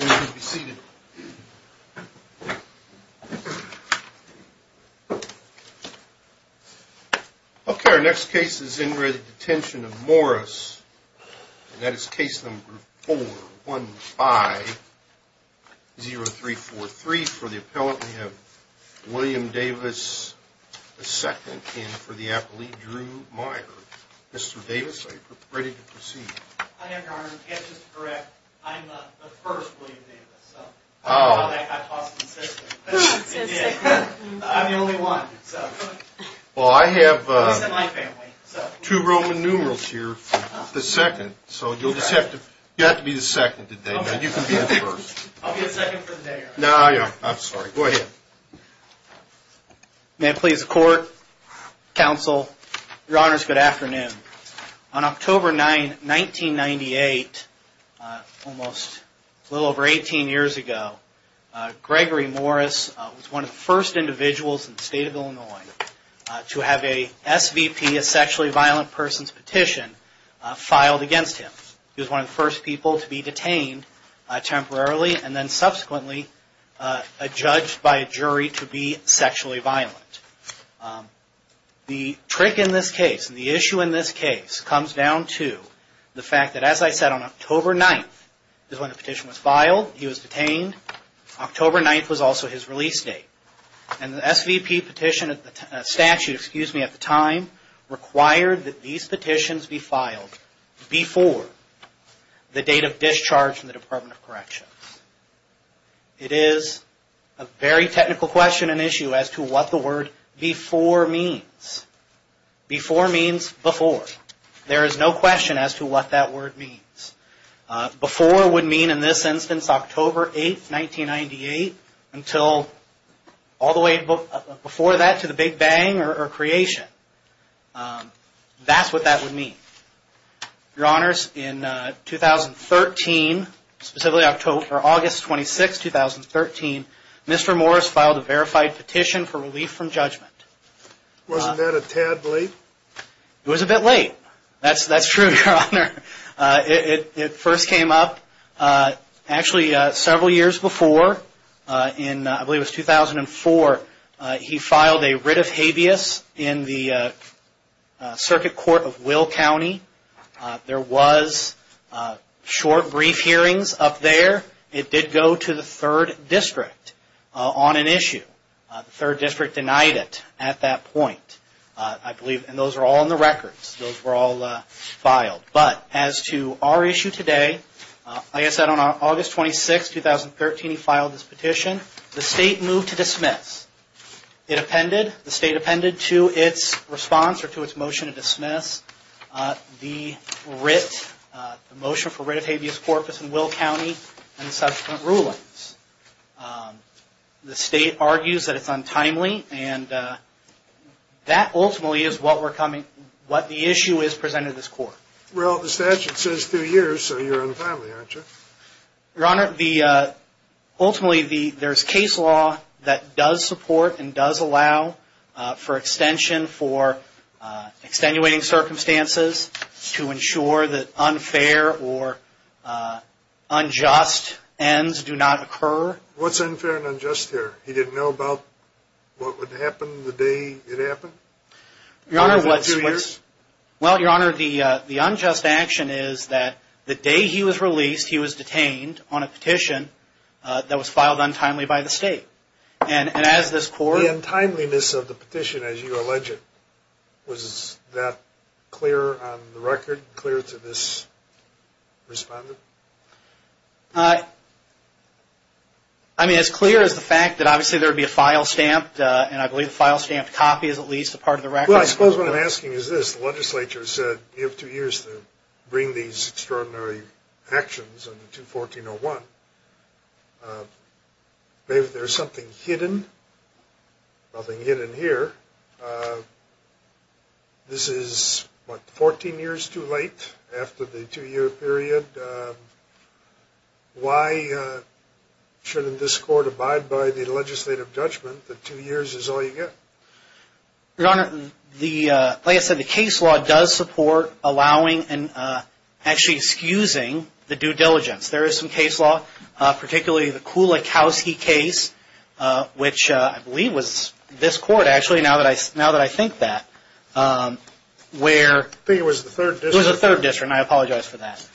Okay, our next case is in re Detention of Morris and that is case number 415-0343 for the appellant. We have William Davis II in for the appellee, Drew Meyer. Mr. Davis, are you ready to proceed? I am, Your Honor. Just to correct, I'm not the first William Davis. I'm the only one. Well, I have two Roman numerals here for the second, so you'll just have to be the second today. You can be the first. I'll be the second for the day, Your Honor. No, I'm sorry. Go ahead. May it please the Court, Counsel, Your Honors, good afternoon. On October 9, 1998, almost a little over 18 years ago, Gregory Morris was one of the first individuals in the state of Illinois to have a SVP, a sexually violent person's petition, filed against him. He was one of the first people to be detained temporarily and then subsequently judged by a jury to be sexually violent. The trick in this case, the issue in this case, comes down to the fact that as I said on October 9th is when the petition was filed, he was detained, October 9th was also his release date, and the SVP petition statute, excuse me, at the time required that these the date of discharge from the Department of Corrections. It is a very technical question and issue as to what the word before means. Before means before. There is no question as to what that word means. Before would mean in this instance October 8th, 1998 until all the way before that to the Big Bang or creation. That's what that would mean. Your Honors, in 2013, specifically August 26th, 2013, Mr. Morris filed a verified petition for relief from judgment. Wasn't that a tad late? It was a bit late. That's true, Your Honor. It first came up actually several years before in, I believe it was 2004, he filed a writ of habeas in the Circuit Court of Will County. There was short brief hearings up there. It did go to the 3rd District on an issue. The 3rd District denied it at that point. I believe, and those are all in the records, those were all filed. But as to our issue today, like I said on August 26th, 2013, he filed this petition. The state moved to dismiss. It appended. The state appended to its response or to its motion to dismiss the writ, the motion for writ of habeas corpus in Will County and subsequent rulings. The state argues that it's untimely and that ultimately is what the issue is presented this court. Well, the statute says 2 years, so you're untimely, aren't you? Your Honor, ultimately there's case law that does support and does allow for extension for extenuating circumstances to ensure that unfair or unjust ends do not occur. What's unfair and unjust here? He didn't know about what would happen the day it happened? Your Honor, what's... 2 years? Well, Your Honor, the unjust action is that the day he was released, he was detained on a petition that was filed untimely by the state. And as this court... The untimeliness of the petition, as you allege it, was that clear on the record? Clear to this respondent? I mean, as clear as the fact that obviously there would be a file stamped, and I believe the file stamped copy is at least a part of the record. Well, I suppose what I'm asking is this, the legislature said you have 2 years to bring these extraordinary actions under 214.01. Maybe there's something hidden? Nothing hidden here. This is, what, 14 years too late after the 2-year period? Why shouldn't this court abide by the legislative judgment that 2 years is all you get? Your Honor, like I said, the case law does support allowing and actually excusing the due diligence. There is some case law, particularly the Kulakowski case, which I believe was this court actually now that I think that, where... I think it was the 3rd District. It was the 3rd District, and I apologize for that.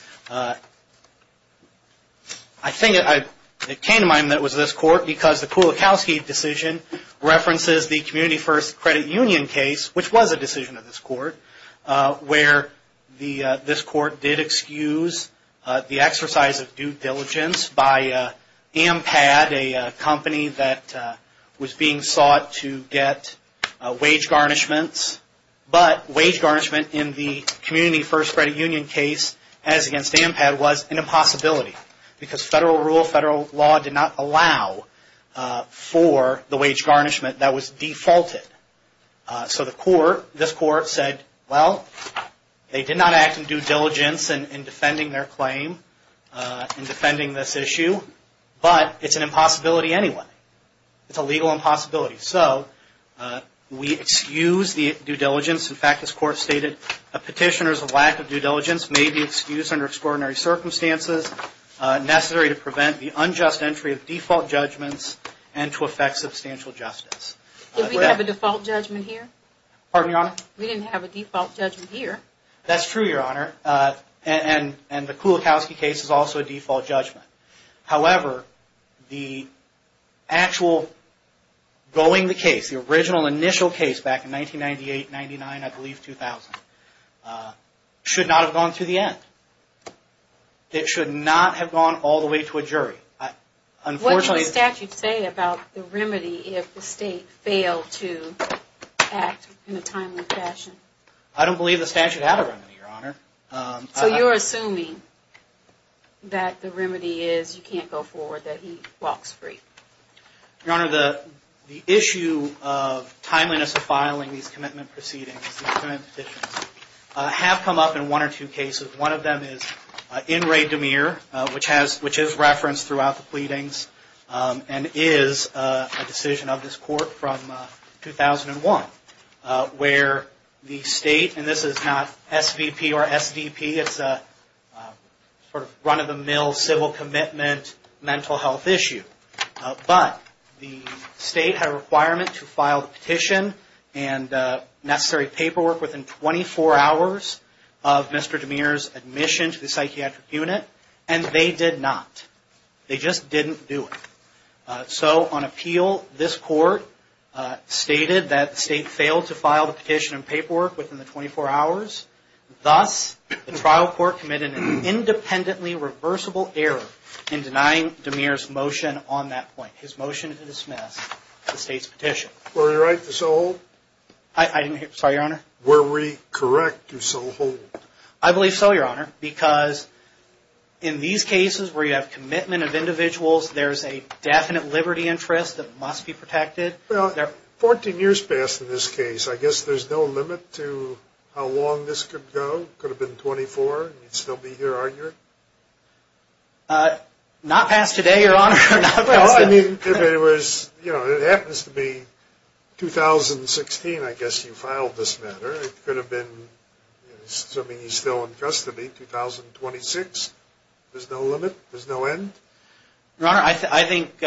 I think it came to mind that it was this court because the Kulakowski decision references the Community First Credit Union case, which was a decision of this court, where this court did excuse the exercise of due diligence by Ampad, a company that was being sought to get wage garnishments, but wage garnishment in the Community First Credit Union case as against Ampad was an impossibility because federal rule, federal law did not allow for the wage garnishment that was defaulted. So the court, this court said, well, they did not act in due diligence in defending their claim, in defending this issue, but it's an impossibility anyway. It's a legal impossibility. So we excuse the due diligence. In fact, this court stated, a petitioner's lack of due diligence may be excused under extraordinary circumstances necessary to prevent the unjust entry of default judgments and to affect substantial justice. Did we have a default judgment here? Pardon, Your Honor? We didn't have a default judgment here. That's true, Your Honor, and the Kulakowski case is also a default judgment. However, the actual going the case, the original initial case back in 1998, 99, I believe 2000, should not have gone to the end. It should not have gone all the way to a jury. What did the statute say about the remedy if the state failed to act in a timely fashion? I don't believe the statute had a remedy, Your Honor. So you're assuming that the remedy is you can't go forward, that he walks free. Your Honor, the issue of timeliness of filing these commitment proceedings, these commitment petitions, have come up in one or two cases. One of them is in Ray DeMere, which is referenced throughout the pleadings and is a decision of this court from 2001, where the state, and this is not SVP or SDP, it's a run-of-the-mill civil commitment mental health issue, but the state had a requirement to file the petition and necessary paperwork within 24 hours of Mr. DeMere's admission to the psychiatric unit, and they did not. They just didn't do it. So on appeal, this court stated that the state failed to file the petition and paperwork within the 24 hours. Thus, the trial court committed an independently reversible error in denying DeMere's motion His motion is dismissed. The state's petition. Were we right to so hold? I didn't hear. Sorry, Your Honor. Were we correct to so hold? I believe so, Your Honor, because in these cases where you have commitment of individuals, there's a definite liberty interest that must be protected. Well, 14 years passed in this case. I guess there's no limit to how long this could go. It could have been 24 and you'd still be here, aren't you? Not past today, Your Honor. Well, I mean, if it was, you know, it happens to be 2016, I guess you filed this matter. It could have been, I mean, he's still in custody, 2026. There's no limit. There's no end. Your Honor, I think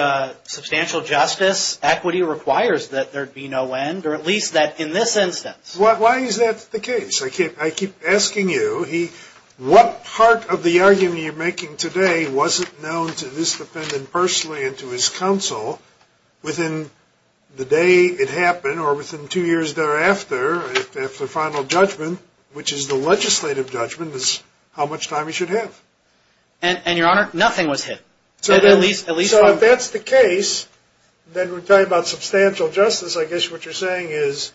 substantial justice, equity requires that there be no end, or at least that in this instance. Why is that the case? I keep asking you, what part of the argument you're making today wasn't known to this defendant and to his counsel within the day it happened, or within two years thereafter, after final judgment, which is the legislative judgment, is how much time he should have. And Your Honor, nothing was hit. So if that's the case, then we're talking about substantial justice. I guess what you're saying is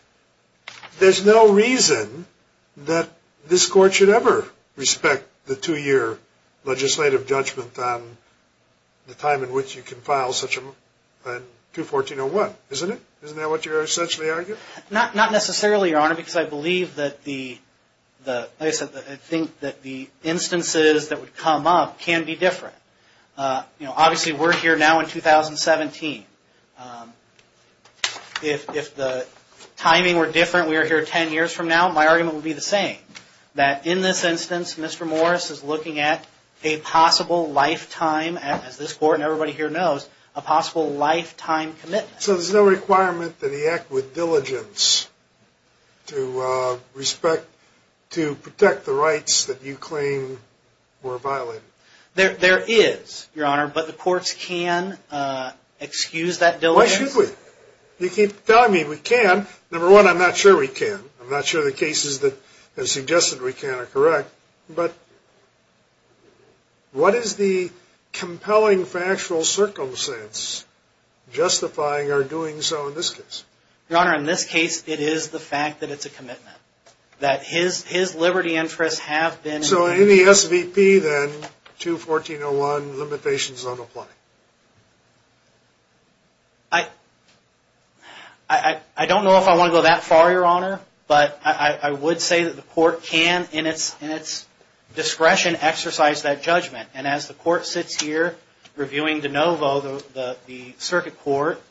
there's no reason that this court should ever respect the two-year legislative judgment on the time in which you can file such a 214-01, isn't it? Isn't that what you're essentially arguing? Not necessarily, Your Honor, because I believe that the, like I said, I think that the instances that would come up can be different. You know, obviously we're here now in 2017. If the timing were different, we were here ten years from now, my argument would be the a possible lifetime, as this court and everybody here knows, a possible lifetime commitment. So there's no requirement that he act with diligence to respect, to protect the rights that you claim were violated? There is, Your Honor, but the courts can excuse that diligence. Why should we? You keep telling me we can. Number one, I'm not sure we can. I'm not sure the cases that have suggested we can are correct. But what is the compelling factual circumstance justifying our doing so in this case? Your Honor, in this case, it is the fact that it's a commitment, that his liberty interests have been... So in the SVP, then, 214-01, the limitation is unapplied? I don't know if I want to go that far, Your Honor, but I would say that the court can in its discretion exercise that judgment. And as the court sits here reviewing de novo, the circuit court,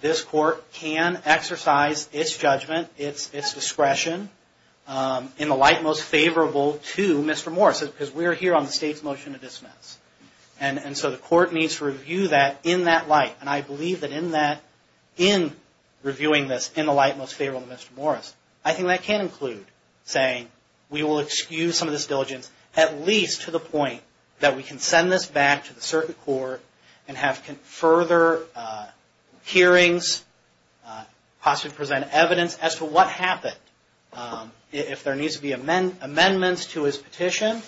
this court can exercise its judgment, its discretion, in the light most favorable to Mr. Morris, because we're here on the state's motion to dismiss. And so the court needs to review that in that light. And I believe that in that, in reviewing this in the light most favorable to Mr. Morris, I think that can include saying, we will excuse some of this diligence, at least to the point that we can send this back to the circuit court and have further hearings, possibly present evidence as to what happened. If there needs to be amendments to his petition,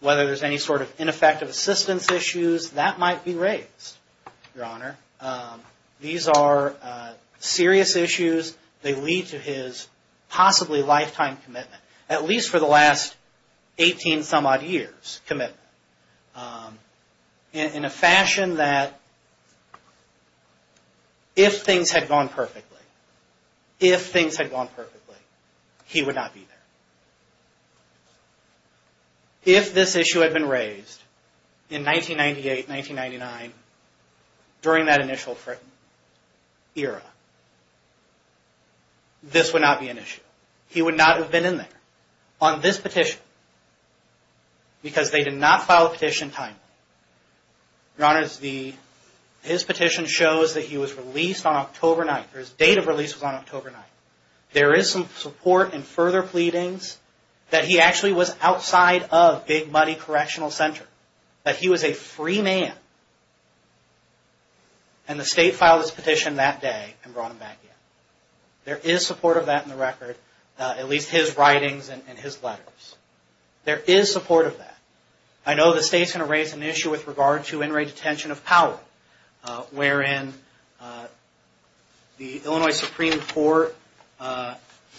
whether there's any sort of ineffective assistance issues, that might be raised, Your Honor. These are serious issues. These are serious issues. They lead to his possibly lifetime commitment, at least for the last 18-some-odd years' commitment, in a fashion that if things had gone perfectly, if things had gone perfectly, he would not be there. If this issue had been raised in 1998-1999, during that initial era, this would not be an issue. He would not have been in there on this petition, because they did not file a petition timely. Your Honor, his petition shows that he was released on October 9th, or his date of release was on October 9th. There is some support and further pleadings that he actually was outside of Big Muddy Correctional Center, that he was a free man, and the state filed his petition that day and brought him back in. There is support of that in the record, at least his writings and his letters. There is support of that. I know the state's going to raise an issue with regard to in-rate detention of power, wherein the Illinois Supreme Court,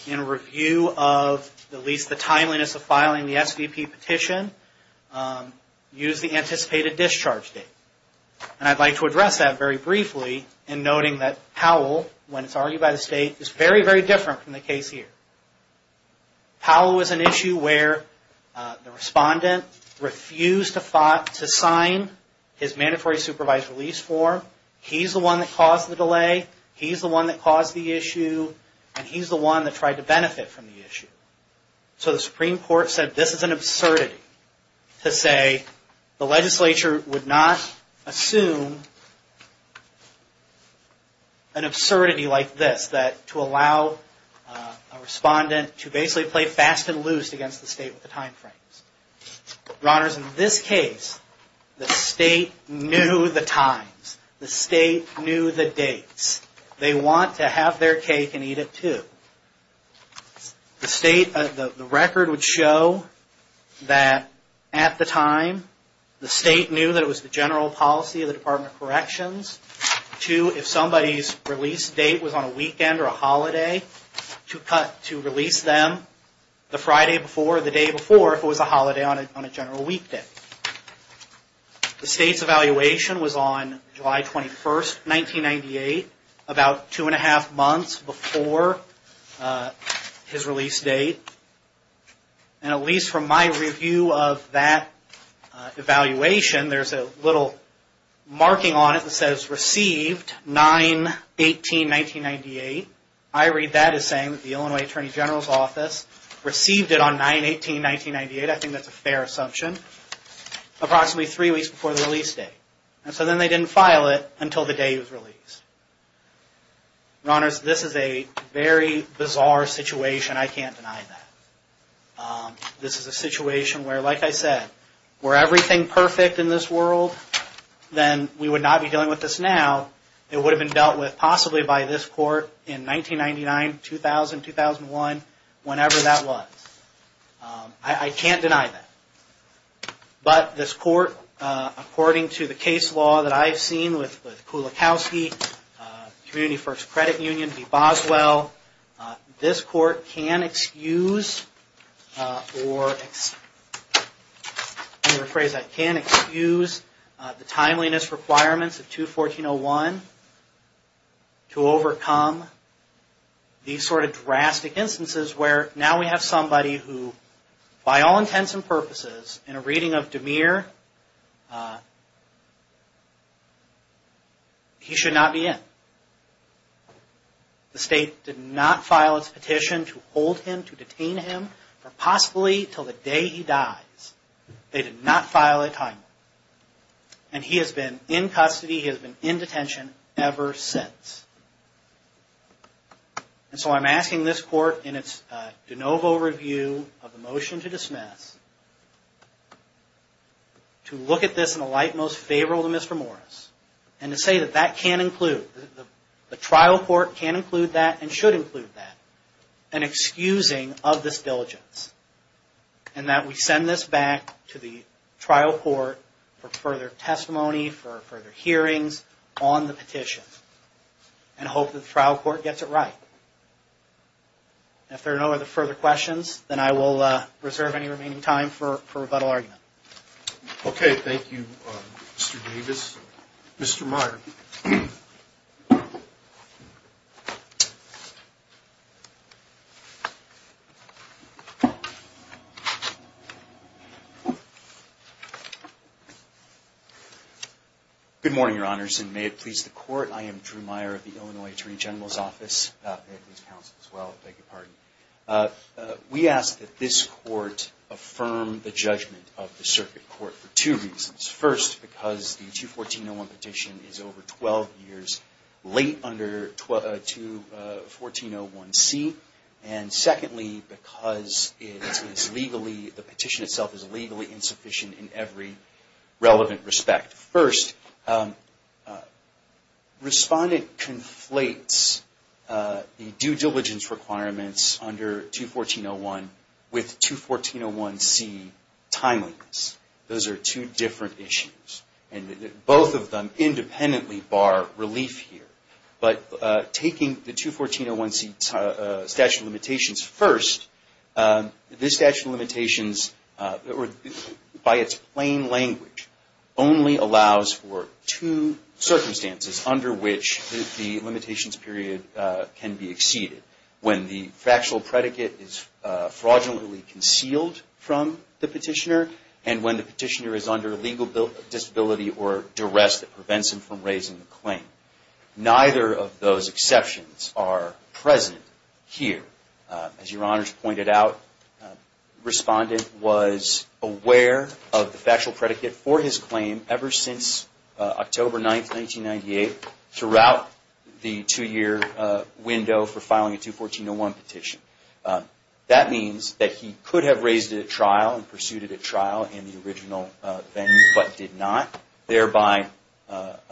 in review of at least the timeliness of filing the SVP petition, used the anticipated discharge date. I'd like to address that very briefly in noting that Powell, when it's argued by the state, is very, very different from the case here. Powell is an issue where the respondent refused to sign his mandatory supervised release form. He's the one that caused the delay. He's the one that caused the issue. And he's the one that tried to benefit from the issue. So the Supreme Court said this is an absurdity to say the legislature would not assume an absurdity like this. That to allow a respondent to basically play fast and loose against the state with the time frames. Your Honors, in this case, the state knew the times. The state knew the dates. They want to have their cake and eat it too. The state, the record would show that at the time, the state knew that it was the general policy of the Department of Corrections to, if somebody's release date was on a weekend or a holiday, to release them the Friday before or the day before if it was a holiday on a general weekday. The state's evaluation was on July 21st, 1998, about two and a half months before his release date. And at least from my review of that evaluation, there's a little marking on it that says received 9-18-1998. I read that as saying that the Illinois Attorney General's Office received it on 9-18-1998. I think that's a fair assumption. Approximately three weeks before the release date. And so then they didn't file it until the day he was released. Your Honors, this is a very bizarre situation. I can't deny that. This is a situation where, like I said, were everything perfect in this world, then we would not be dealing with this now. It would have been dealt with possibly by this Court in 1999, 2000, 2001, whenever that was. I can't deny that. But this Court, according to the case law that I've seen with Kulikowski, Community First Credit Union v. Boswell, this Court can excuse, or under the phrase that can excuse, the timeliness requirements of 214-01 to overcome these sort of drastic instances where now we have somebody who, by all intents and purposes, in a reading of DeMere, he should not be in. The State did not file its petition to hold him, to detain him, for possibly until the day he dies. They did not file a time limit. And he has been in custody, he has been in detention ever since. And so I'm asking this Court, in its de novo review of the motion to dismiss, to look at this in the light most favorable to Mr. Morris, and to say that that can include, the trial court can include that and should include that, an excusing of this diligence. And that we send this back to the trial court for further testimony, for further hearings on the petition. And hope that the trial court gets it right. If there are no other further questions, then I will reserve any remaining time for rebuttal argument. Okay, thank you, Mr. Davis. Mr. Meyer. Good morning, Your Honors, and may it please the Court. I am Drew Meyer of the Illinois Attorney General's Office. We ask that this Court affirm the judgment of the circuit court for two reasons. First, because the 214-01 petition is overruled. late under 214-01c. And secondly, because it is legally, the petition itself is legally insufficient in every relevant respect. First, respondent conflates the due diligence requirements under 214-01 with 214-01c timeliness. Those are two different issues. And both of them independently bar relief here. But taking the 214-01c statute of limitations first, this statute of limitations, by its plain language, only allows for two circumstances under which the limitations period can be exceeded. When the factual predicate is fraudulently concealed from the petitioner, and when the petitioner is under legal disability or duress that prevents him from raising the claim. Neither of those exceptions are present here. As Your Honors pointed out, respondent was aware of the factual predicate for his claim ever since October 9, 1998, throughout the two-year window for filing a 214-01 petition. That means that he could have raised it at trial and pursued it at trial in the original venue, but did not. Thereby, now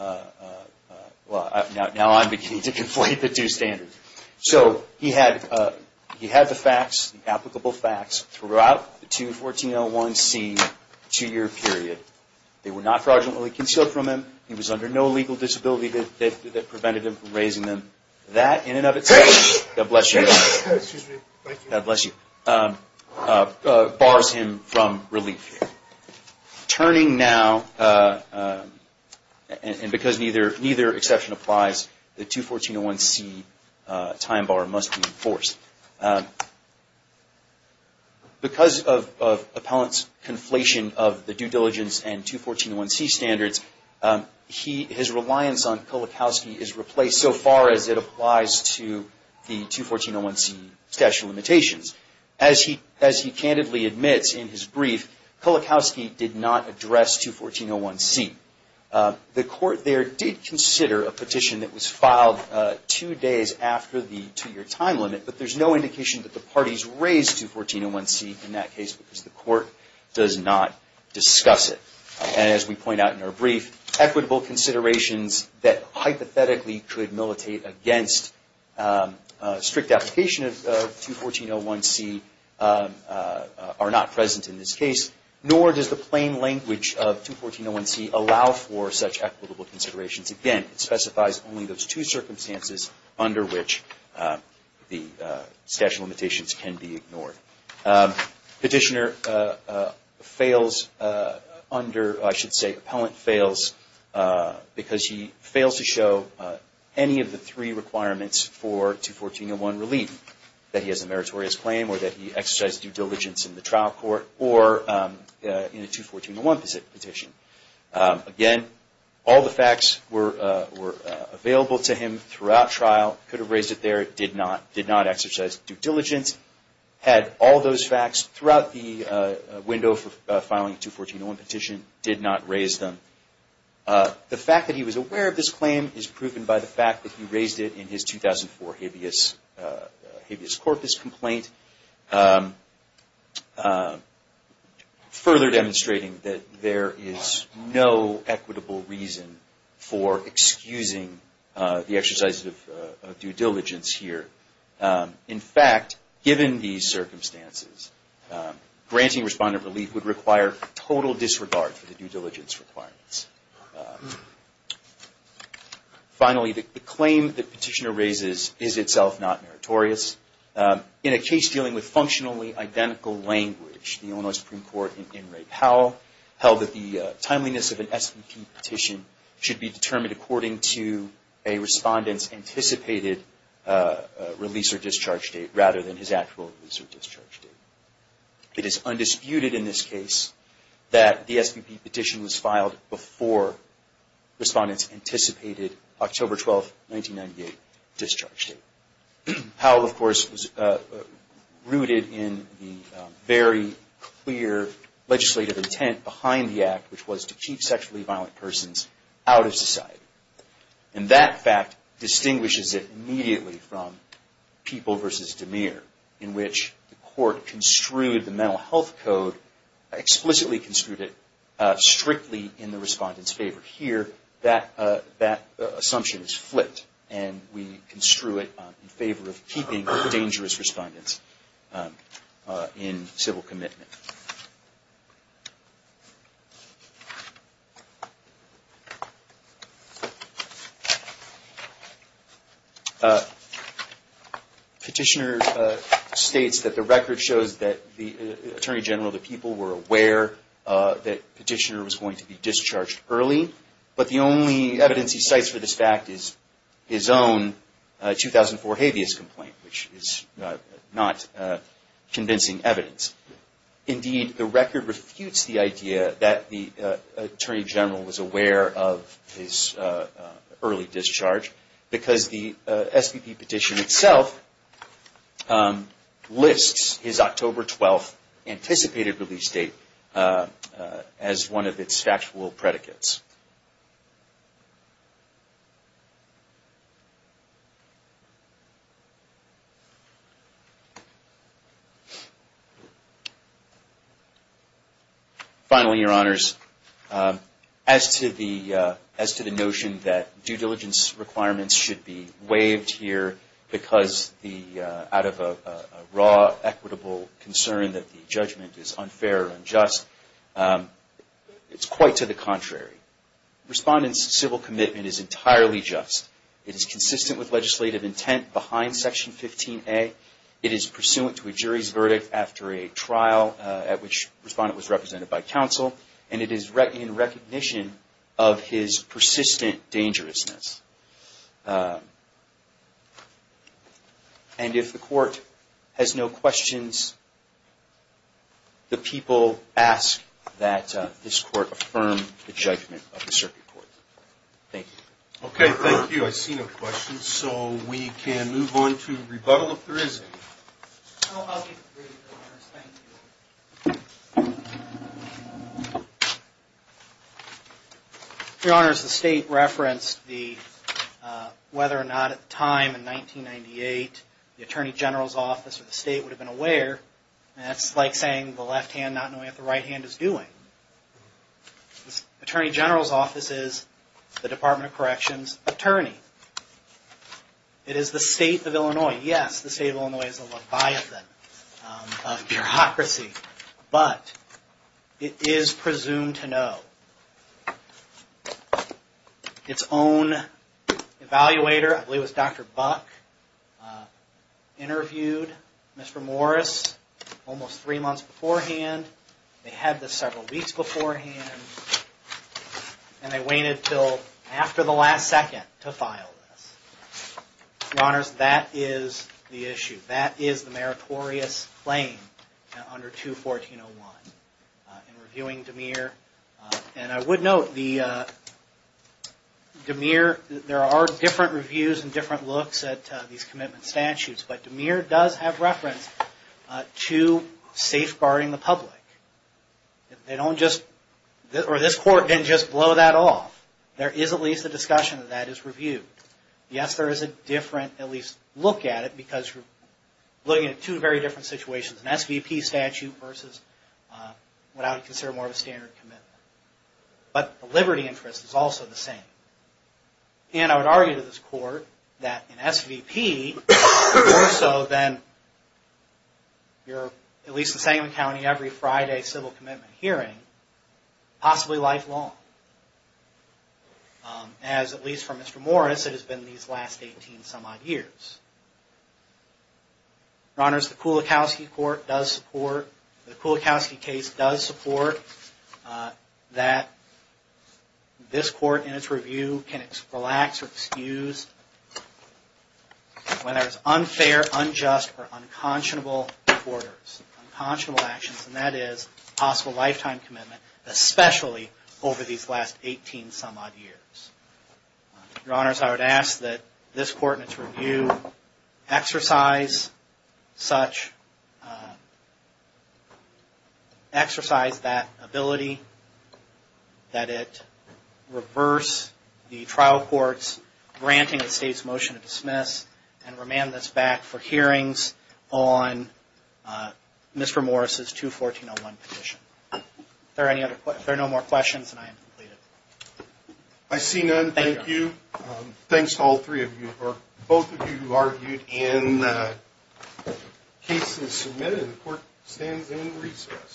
I'm beginning to conflate the two standards. So he had the facts, the applicable facts, throughout the 214-01c two-year period. They were not fraudulently concealed from him. He was under no legal disability that prevented him from raising them. That, in and of itself, God bless you, God bless you, bars him from relief. Turning now, and because neither exception applies, the 214-01c time bar must be enforced. Because of appellant's conflation of the due diligence and 214-01c standards, his reliance on Kulikowski is replaced so far as it applies to the 214-01c statute of limitations. As he candidly admits in his brief, Kulikowski did not address 214-01c. The court there did consider a petition that was filed two days after the two-year time limit, but there's no indication that the parties raised 214-01c in that case because the court does not discuss it. As we point out in our brief, equitable considerations that hypothetically could militate against strict application of 214-01c are not present in this case, nor does the plain language of 214-01c allow for such equitable considerations. Again, it specifies only those two circumstances under which the statute of limitations can be ignored. Petitioner fails under, I should say, appellant fails because he fails to show any of the three requirements for 214-01 relief, that he has a meritorious claim or that he exercised due diligence in the trial court or in a 214-01 petition. Again, all the facts were available to him throughout trial, could have raised it there, but did not exercise due diligence, had all those facts throughout the window for filing a 214-01 petition, did not raise them. The fact that he was aware of this claim is proven by the fact that he raised it in his 2004 habeas corpus complaint, further demonstrating that there is no equitable reason for excusing the exercise of due diligence here. In fact, given these circumstances, granting respondent relief would require total disregard for the due diligence requirements. Finally, the claim that petitioner raises is itself not meritorious. In a case dealing with functionally identical language, the Illinois Supreme Court in Ray Powell held that the timeliness of an SBP petition should be determined according to a respondent's anticipated release or discharge date rather than his actual release or discharge date. It is undisputed in this case that the SBP petition was filed before respondents anticipated October 12, 1998 discharge date. Powell, of course, was rooted in the very clear legislative intent behind the act, which was to keep sexually violent persons out of society. And that fact distinguishes it immediately from People v. DeMere, in which the court construed the Mental Health Code, explicitly construed it strictly in the respondent's favor. However, here, that assumption is flipped, and we construe it in favor of keeping dangerous respondents in civil commitment. Petitioner states that the record shows that the Attorney General of the People were aware that petitioner was going to be discharged early, but the only evidence he cites for this fact is his own 2004 habeas complaint, which is not convincing evidence. Indeed, the record refutes the idea that the Attorney General was aware of his early discharge, because the SBP petition itself lists his October 12 anticipated release date as one of its factual predicates. Finally, Your Honors, as to the notion that due diligence requirements should be waived here because out of a raw, equitable concern that the judgment is unfair or unjust, it is quite to the contrary. Respondent's civil commitment is entirely just. It is consistent with legislative intent behind Section 15A. It is pursuant to a jury's verdict after a trial at which a respondent was represented by counsel, and it is in recognition of his persistent dangerousness. And if the Court has no questions, the people ask that this Court affirm the judgment of the Circuit Court. Thank you. Okay, thank you. I see no questions, so we can move on to rebuttal if there is any. I'll be brief, Your Honors. Thank you. Your Honors, the State referenced whether or not at the time, in 1998, the Attorney General's office or the State would have been aware, and that's like saying the left hand not knowing what the right hand is doing. The Attorney General's office is the Department of Corrections' attorney. It is the State of Illinois. Yes, the State of Illinois is a leviathan of bureaucracy, but it is presumed to know. Its own evaluator, I believe it was Dr. Buck, interviewed Mr. Morris almost three months beforehand. They had this several weeks beforehand, and they waited until after the last second to file this. Your Honors, that is the issue. That is the meritorious claim under 214.01, in reviewing DeMere. And I would note, DeMere, there are different reviews and different looks at these commitment statutes, but DeMere does have reference to safeguarding the public. They don't just, or this Court didn't just blow that off. There is at least a discussion that that is reviewed. Yes, there is a different, at least look at it, because you're looking at two very different situations, an SVP statute versus what I would consider more of a standard commitment. But the liberty interest is also the same. And I would argue to this Court that an SVP is more so than your, at least in Sangamon County, every Friday civil commitment hearing, possibly lifelong. As, at least for Mr. Morris, it has been these last 18 some odd years. Your Honors, the Kulikowski case does support that this Court, in its review, can relax or excuse when there is unfair, unjust, or unconscionable orders, unconscionable actions. And that is possible lifetime commitment, especially over these last 18 some odd years. Your Honors, I would ask that this Court, in its review, exercise such, exercise that ability, that it reverse the trial court's granting the State's motion to dismiss and remand this back for hearings on Mr. Morris' 214.01 petition. If there are no more questions, then I am completed. I see none. Thank you. Thanks to all three of you, or both of you who argued in the cases submitted. The Court stands in recess.